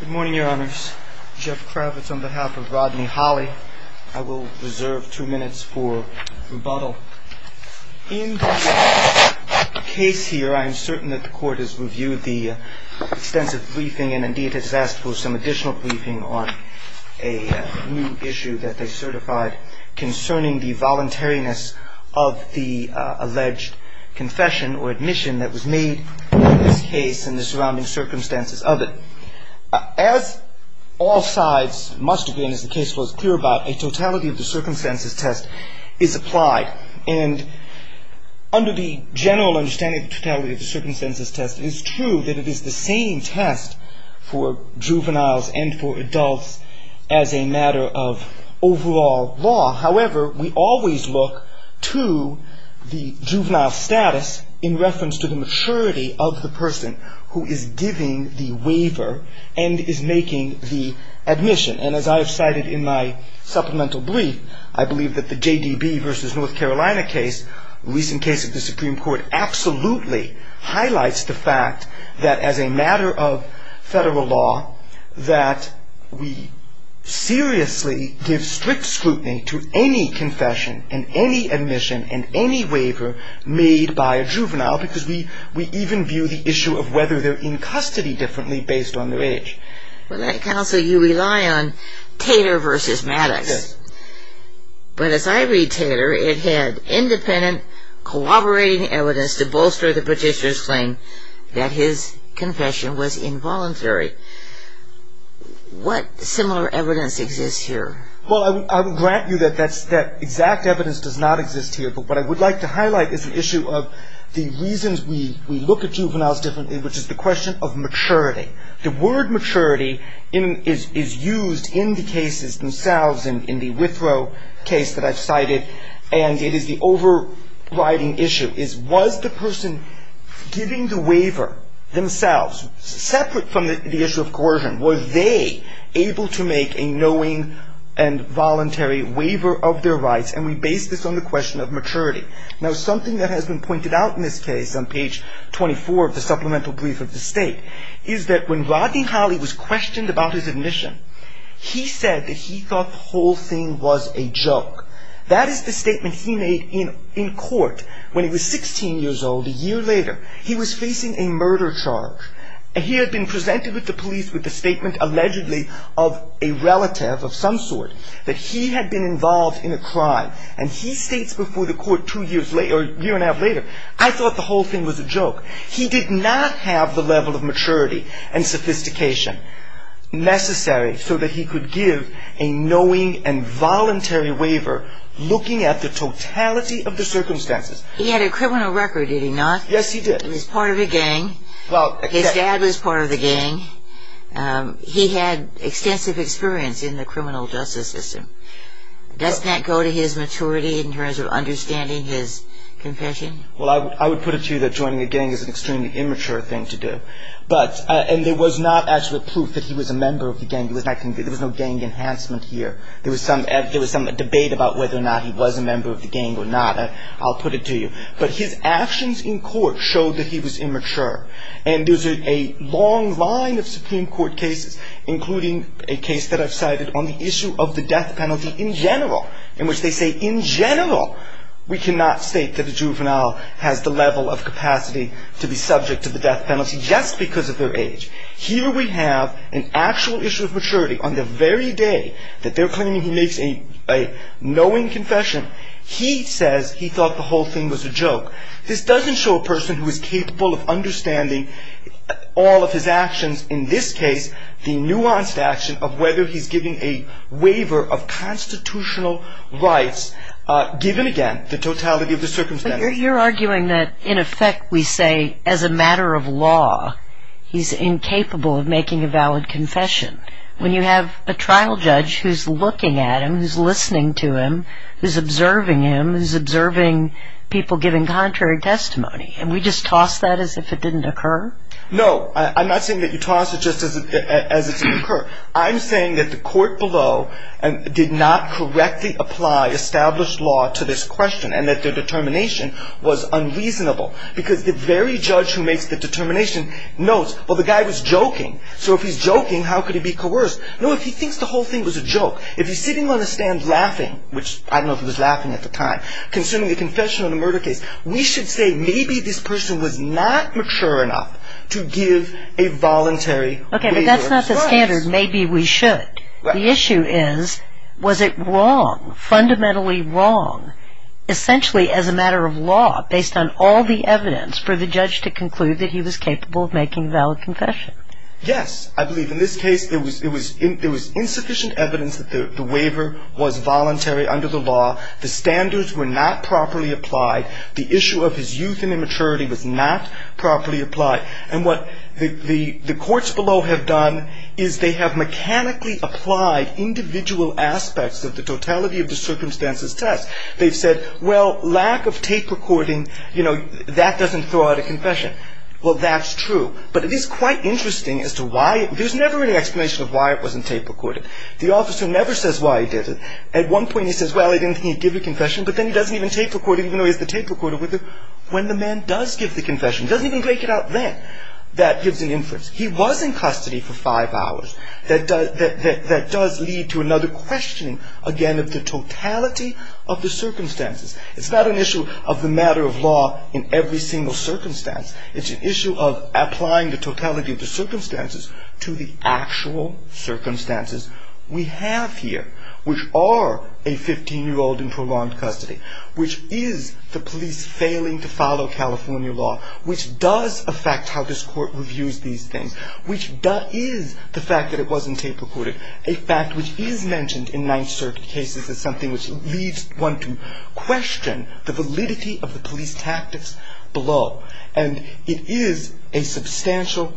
Good morning, Your Honors. Jeff Kravitz on behalf of Rodney Hollie. I will reserve two minutes for rebuttal. In this case here, I am certain that the Court has reviewed the extensive briefing and indeed has asked for some additional briefing on a new issue that they certified concerning the voluntariness of the alleged confession or admission that was made in this case and the surrounding circumstances of it. As all sides must agree and as the case was clear about, a totality of the circumstances test is applied and under the general understanding of the totality of the circumstances test, it is true that it is the same test for juveniles and for adults as a matter of overall law. However, we always look to the juvenile status in reference to the maturity of the person who is giving the waiver and is making the admission. And as I have cited in my supplemental brief, I believe that the J.D.B. v. North Carolina case, a recent case of the Supreme Court, absolutely highlights the fact that as a matter of federal law that we seriously give strict scrutiny to any confession and any admission and any waiver made by a juvenile because we even view the issue of whether they are in custody differently based on their age. Well, Counsel, you rely on Tater v. Maddox. Yes. But as I read Tater, it had independent, corroborating evidence to bolster the petitioner's claim that his confession was involuntary. What similar evidence exists here? Well, I would grant you that exact evidence does not exist here, but what I would like to highlight is an issue of the reasons we look at juveniles differently, which is the question of maturity. The word maturity is used in the cases themselves, in the Withrow case that I've cited, and it is the overriding issue, is was the person giving the waiver themselves, separate from the issue of coercion, was they able to make a knowing and voluntary waiver of their rights? And we base this on the question of maturity. Now, something that has been pointed out in this case on page 24 of the Supplemental Brief of the State is that when Rodney Holley was questioned about his admission, he said that he thought the whole thing was a joke. That is the statement he made in court when he was 16 years old a year later. He was facing a murder charge. He had been presented with the police with the statement allegedly of a relative of some sort, that he had been involved in a crime, and he states before the court a year and a half later, I thought the whole thing was a joke. He did not have the level of maturity and sophistication necessary so that he could give a knowing and voluntary waiver looking at the totality of the circumstances. He had a criminal record, did he not? Yes, he did. He was part of a gang. His dad was part of the gang. He had extensive experience in the criminal justice system. Does that go to his maturity in terms of understanding his confession? Well, I would put it to you that joining a gang is an extremely immature thing to do. And there was not actual proof that he was a member of the gang. There was no gang enhancement here. There was some debate about whether or not he was a member of the gang or not. I'll put it to you. But his actions in court showed that he was immature. And there's a long line of Supreme Court cases, including a case that I've cited on the issue of the death penalty in general, in which they say in general we cannot state that a juvenile has the level of capacity to be subject to the death penalty just because of their age. Here we have an actual issue of maturity on the very day that they're claiming he makes a knowing confession. He says he thought the whole thing was a joke. This doesn't show a person who is capable of understanding all of his actions, in this case the nuanced action of whether he's given a waiver of constitutional rights given, again, the totality of the circumstances. But you're arguing that in effect we say as a matter of law he's incapable of making a valid confession. When you have a trial judge who's looking at him, who's listening to him, who's observing him, who's observing people giving contrary testimony, and we just toss that as if it didn't occur? No. I'm not saying that you toss it just as if it didn't occur. I'm saying that the court below did not correctly apply established law to this question and that their determination was unreasonable. Because the very judge who makes the determination notes, well, the guy was joking, so if he's joking, how could he be coerced? No, if he thinks the whole thing was a joke, if he's sitting on a stand laughing, which I don't know if he was laughing at the time, consuming a confession on a murder case, we should say maybe this person was not mature enough to give a voluntary waiver of rights. Okay, but that's not the standard, maybe we should. The issue is was it wrong, fundamentally wrong, essentially as a matter of law based on all the evidence for the judge to conclude that he was capable of making a valid confession? Yes. I believe in this case there was insufficient evidence that the waiver was voluntary under the law. The standards were not properly applied. The issue of his youth and immaturity was not properly applied. And what the courts below have done is they have mechanically applied individual aspects of the totality of the circumstances test. They've said, well, lack of tape recording, you know, that doesn't throw out a confession. Well, that's true. But it is quite interesting as to why there's never any explanation of why it wasn't tape recorded. The officer never says why he did it. At one point he says, well, he didn't give a confession, but then he doesn't even tape record it even though he has the tape recorder with him. When the man does give the confession, doesn't even break it out then, that gives an inference. He was in custody for five hours. That does lead to another questioning, again, of the totality of the circumstances. It's not an issue of the matter of law in every single circumstance. It's an issue of applying the totality of the circumstances to the actual circumstances we have here, which are a 15-year-old in prolonged custody, which is the police failing to follow California law, which does affect how this court reviews these things, which is the fact that it wasn't tape recorded, a fact which is mentioned in Ninth Circuit cases as something which leads one to question the validity of the police tactics below. And it is a substantial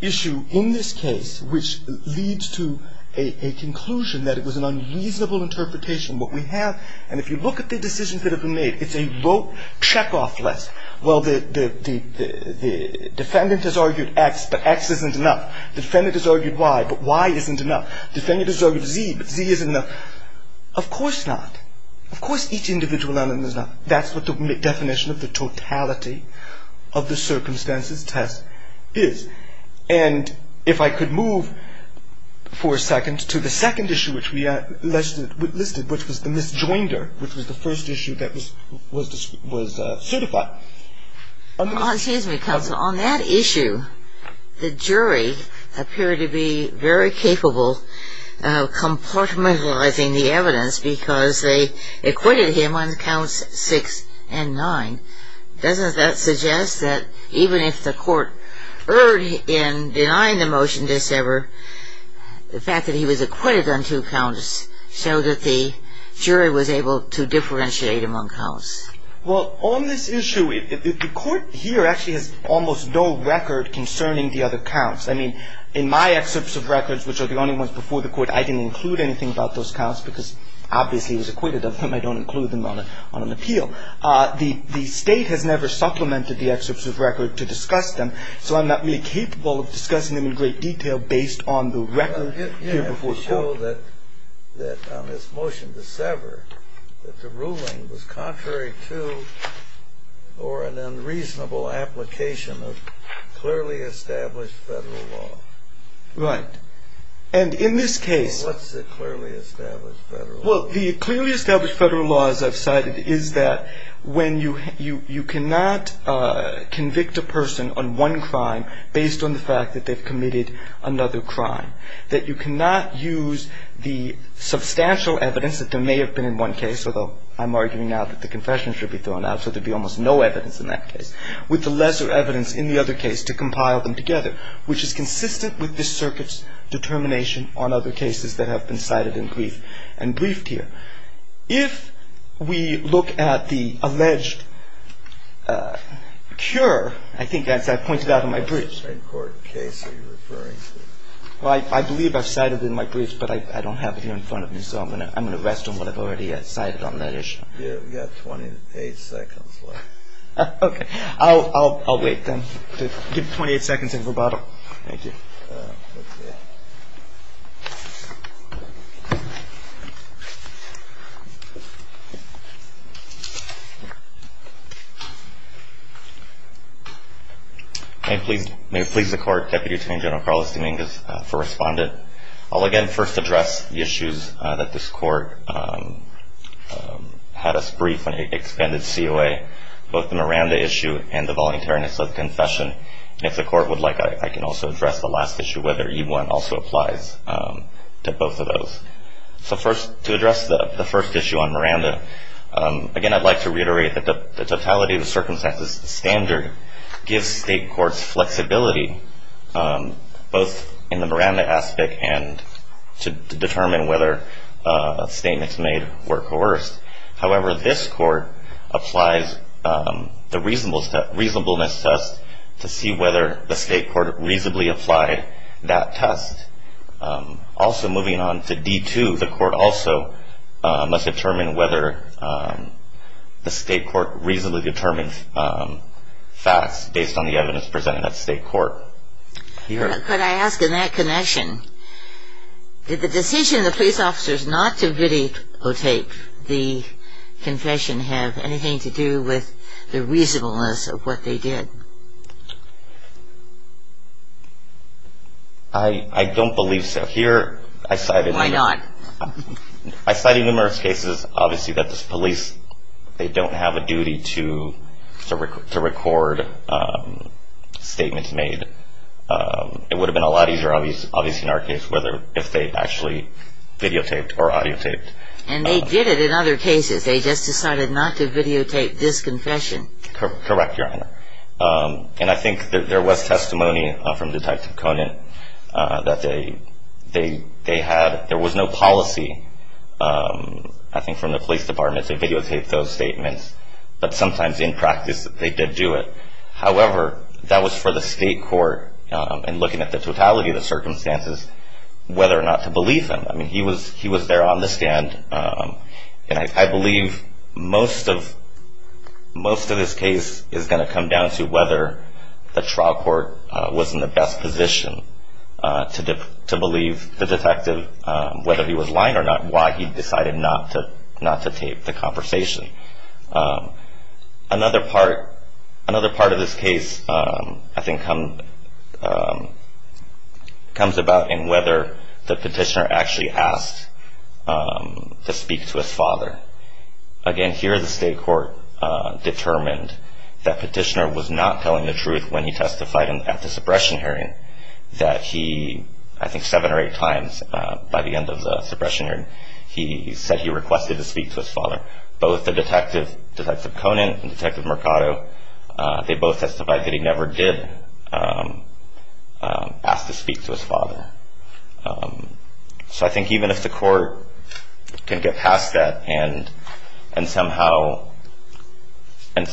issue in this case which leads to a conclusion that it was an unreasonable interpretation. What we have, and if you look at the decisions that have been made, it's a rote checkoff list. Well, the defendant has argued X, but X isn't enough. The defendant has argued Y, but Y isn't enough. The defendant has argued Z, but Z isn't enough. Of course not. Of course each individual element is not. That's what the definition of the totality of the circumstances test is. And if I could move for a second to the second issue which we listed, which was the misjoinder, which was the first issue that was certified. Excuse me, counsel. On that issue, the jury appeared to be very capable of compartmentalizing the evidence because they acquitted him on counts 6 and 9. Doesn't that suggest that even if the court erred in denying the motion this ever, the fact that he was acquitted on two counts showed that the jury was able to differentiate among counts? Well, on this issue, the court here actually has almost no record concerning the other counts. I mean, in my excerpts of records, which are the only ones before the court, I didn't include anything about those counts because obviously it was acquitted of them. I don't include them on an appeal. The state has never supplemented the excerpts of record to discuss them, so I'm not really capable of discussing them in great detail based on the record here before the court. It did show that on this motion this ever, that the ruling was contrary to or an unreasonable application of clearly established federal law. Right. And in this case. What's the clearly established federal law? Well, the clearly established federal law, as I've cited, is that when you cannot convict a person on one crime based on the fact that they've committed another crime, that you cannot use the substantial evidence that there may have been in one case, although I'm arguing now that the confession should be thrown out, so there'd be almost no evidence in that case, with the lesser evidence in the other case to compile them together, which is consistent with this circuit's determination on other cases that have been cited and briefed here. If we look at the alleged cure, I think as I pointed out in my briefs. What kind of Supreme Court case are you referring to? Well, I believe I've cited in my briefs, but I don't have it here in front of me, so I'm going to rest on what I've already cited on that issue. Yeah, we've got 28 seconds left. Okay. I'll wait then. Give 28 seconds in rebuttal. Thank you. May it please the Court, Deputy Attorney General Carlos Dominguez for Respondent. I'll again first address the issues that this Court had us brief on the expended COA, both the Miranda issue and the voluntariness of confession. And if the Court would like, I can also address the last issue, whether E-1 also applies to both of those. So first, to address the first issue on Miranda, again, I'd like to reiterate that the totality of the circumstances standard gives state courts flexibility, both in the Miranda aspect and to determine whether statements made were coerced. However, this Court applies the reasonableness test to see whether the state court reasonably applied that test. Also, moving on to D-2, the Court also must determine whether the state court reasonably determined facts based on the evidence presented at state court. Could I ask in that connection, did the decision of the police officers not to videotape the confession have anything to do with the reasonableness of what they did? I don't believe so. Why not? I cited numerous cases, obviously, that the police, they don't have a duty to record statements made. It would have been a lot easier, obviously, in our case, if they actually videotaped or audiotaped. And they did it in other cases. They just decided not to videotape this confession. Correct, Your Honor. And I think there was testimony from Detective Conant that they had. There was no policy. I think from the police department to videotape those statements. But sometimes in practice, they did do it. However, that was for the state court, in looking at the totality of the circumstances, whether or not to believe him. I mean, he was there on the stand. And I believe most of this case is going to come down to whether the trial court was in the best position to believe the detective, whether he was lying or not, why he decided not to tape the conversation. Another part of this case, I think, comes about in whether the petitioner actually asked to speak to his father. Again, here the state court determined that petitioner was not telling the truth when he testified at the suppression hearing, that he, I think seven or eight times by the end of the suppression hearing, he said he requested to speak to his father. Both the detective, Detective Conant and Detective Mercado, they both testified that he never did ask to speak to his father. So I think even if the court can get past that and somehow come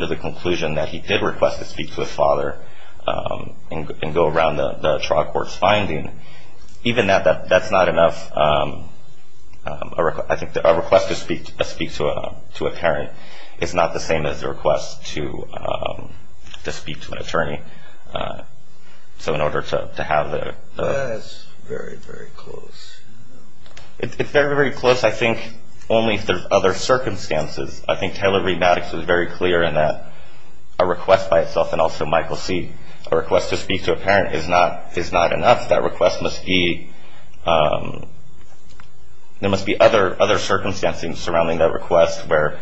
to the conclusion that he did request to speak to his father and go around the trial court's finding, even that's not enough. I think a request to speak to a parent is not the same as a request to speak to an attorney. So in order to have the... That's very, very close. It's very, very close, I think, only if there's other circumstances. I think Taylor Reed Maddox was very clear in that a request by itself and also Michael C., a request to speak to a parent is not enough. That request must be, there must be other circumstances surrounding that request where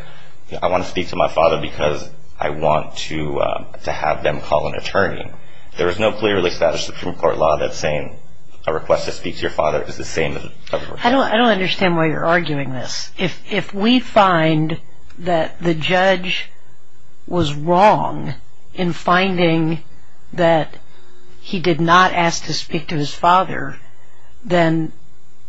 I want to speak to my father because I want to have them call an attorney. There is no clearly established Supreme Court law that's saying a request to speak to your father is the same as a request... I don't understand why you're arguing this. If we find that the judge was wrong in finding that he did not ask to speak to his father, then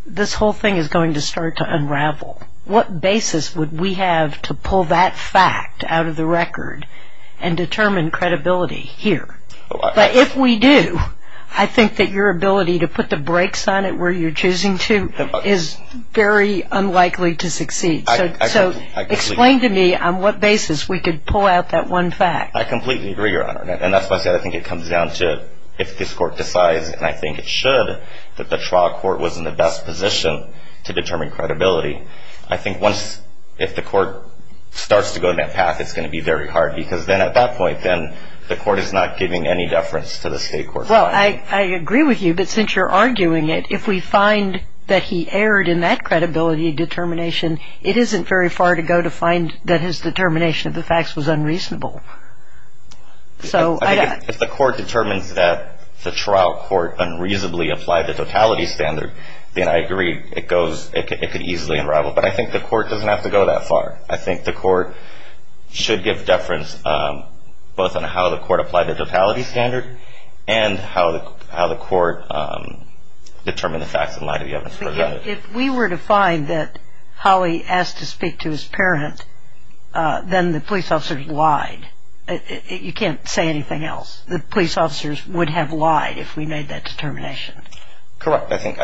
this whole thing is going to start to unravel. What basis would we have to pull that fact out of the record and determine credibility here? But if we do, I think that your ability to put the brakes on it where you're choosing to is very unlikely to succeed. So explain to me on what basis we could pull out that one fact. I completely agree, Your Honor, and that's why I said I think it comes down to if this court decides, and I think it should, that the trial court was in the best position to determine credibility. I think once, if the court starts to go down that path, it's going to be very hard because then at that point, then the court is not giving any deference to the state court. Well, I agree with you, but since you're arguing it, if we find that he erred in that credibility determination, it isn't very far to go to find that his determination of the facts was unreasonable. If the court determines that the trial court unreasonably applied the totality standard, then I agree, it could easily unravel. But I think the court doesn't have to go that far. I think the court should give deference both on how the court applied the totality standard and how the court determined the facts in light of the evidence presented. If we were to find that Howie asked to speak to his parent, then the police officers lied. You can't say anything else. The police officers would have lied if we made that determination. Correct. I think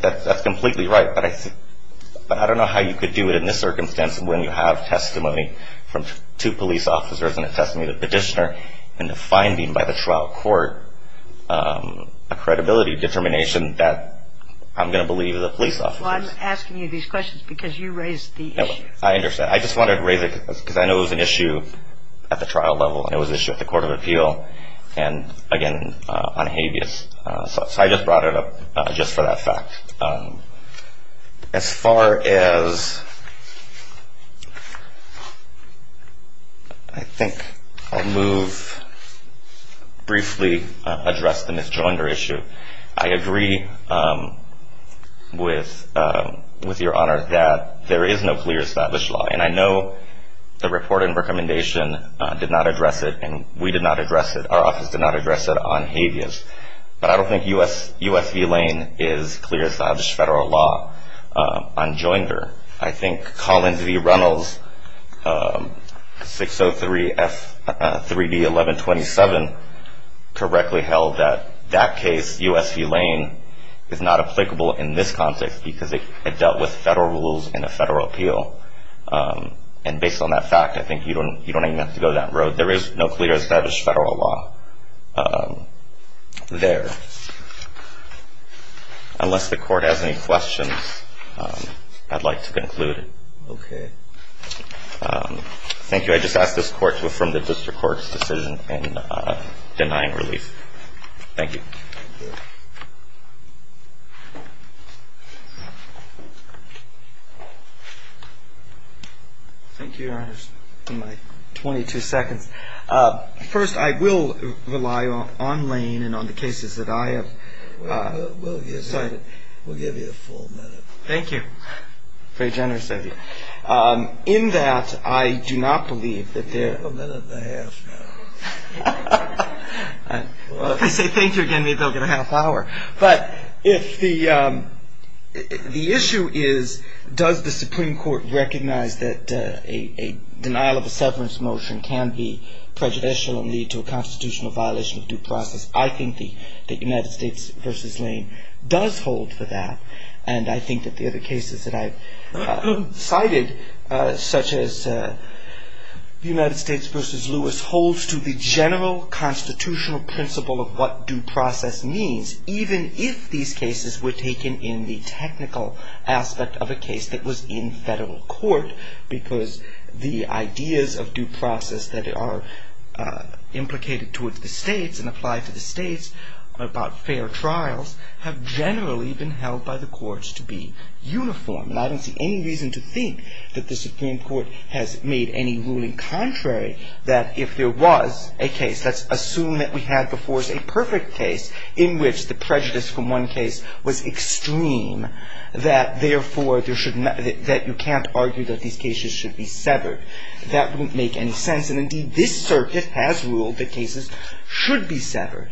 that's completely right, but I don't know how you could do it in this circumstance when you have testimony from two police officers and a testimony of the petitioner and a finding by the trial court, a credibility determination that I'm going to believe the police officers. Well, I'm asking you these questions because you raised the issue. I understand. I just wanted to raise it because I know it was an issue at the trial level and it was an issue at the court of appeal and, again, on habeas. So I just brought it up just for that fact. As far as I think I'll move briefly to address the Ms. Joinder issue, I agree with your Honor that there is no clear established law, and I know the report and recommendation did not address it and we did not address it, our office did not address it on habeas, but I don't think U.S. v. Lane is clear established federal law on Joinder. I think Collins v. Reynolds 603 F3D 1127 correctly held that that case, U.S. v. Lane, is not applicable in this context because it dealt with federal rules and a federal appeal. And based on that fact, I think you don't even have to go that road. There is no clear established federal law there. Unless the Court has any questions, I'd like to conclude. Okay. Thank you. I just ask this Court to affirm the District Court's decision in denying relief. Thank you. Thank you, Your Honors, for my 22 seconds. First, I will rely on Lane and on the cases that I have cited. We'll give you a full minute. Thank you. Very generous of you. In that, I do not believe that there are ñ You have a minute and a half now. Well, if I say thank you again, maybe I'll get a half hour. But if the issue is, does the Supreme Court recognize that a denial of a severance motion can be prejudicial and lead to a constitutional violation of due process? I think that United States v. Lane does hold for that. And I think that the other cases that I've cited, such as United States v. Lewis, holds to the general constitutional principle of what due process means, even if these cases were taken in the technical aspect of a case that was in federal court, because the ideas of due process that are implicated towards the states and apply to the states about fair trials have generally been held by the courts to be uniform. And I don't see any reason to think that the Supreme Court has made any ruling contrary, that if there was a case, let's assume that we had before us a perfect case, in which the prejudice from one case was extreme, that therefore you can't argue that these cases should be severed. That wouldn't make any sense. And indeed, this circuit has ruled that cases should be severed.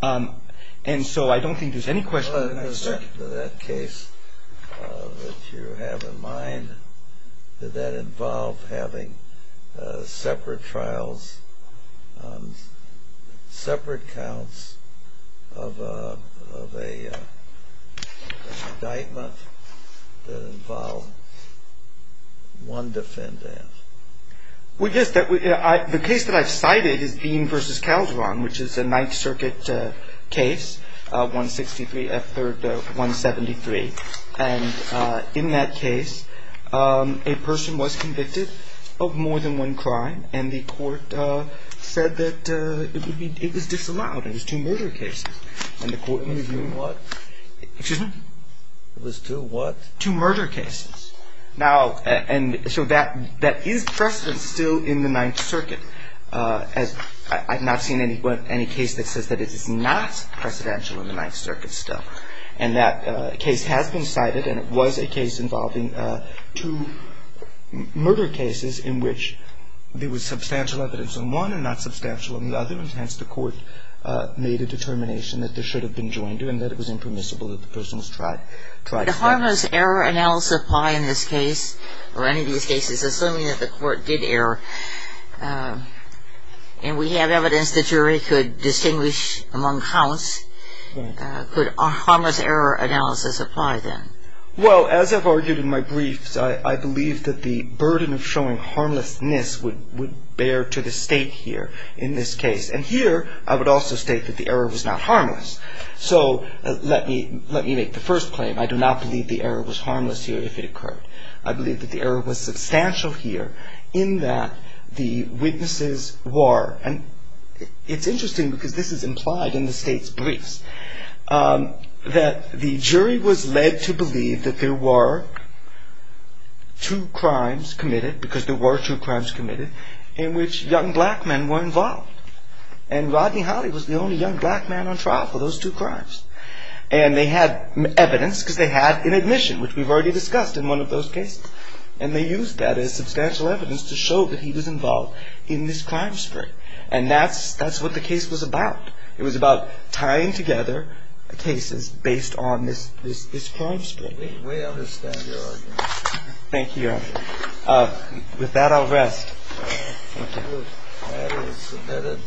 And so I don't think there's any question. In the circuit of that case that you have in mind, did that involve having separate trials, separate counts of a indictment that involved one defendant? Well, yes. The case that I've cited is Dean v. Calderon, which is a Ninth Circuit case, 163 F. 3rd. 173. And in that case, a person was convicted of more than one crime, and the court said that it was disallowed. It was two murder cases. It was two what? Excuse me? It was two what? Two murder cases. Now, and so that is precedent still in the Ninth Circuit. I've not seen any case that says that it is not precedential in the Ninth Circuit still. And that case has been cited, and it was a case involving two murder cases in which there was substantial evidence on one and not substantial on the other, and hence the court made a determination that this should have been joined and that it was impermissible that the person was tried twice. Would harmless error analysis apply in this case, or any of these cases, assuming that the court did error, and we have evidence the jury could distinguish among counts, could harmless error analysis apply then? Well, as I've argued in my briefs, I believe that the burden of showing harmlessness would bear to the state here in this case. And here, I would also state that the error was not harmless. So let me make the first claim. I do not believe the error was harmless here if it occurred. I believe that the error was substantial here in that the witnesses were, and it's interesting because this is implied in the state's briefs, that the jury was led to believe that there were two crimes committed, because there were two crimes committed, in which young black men were involved. And Rodney Holley was the only young black man on trial for those two crimes. And they had evidence, because they had an admission, which we've already discussed in one of those cases. And they used that as substantial evidence to show that he was involved in this crime spree. And that's what the case was about. It was about tying together cases based on this crime spree. We understand your argument. Thank you, Your Honor. With that, I'll rest. Thank you. Thank you. That is submitted.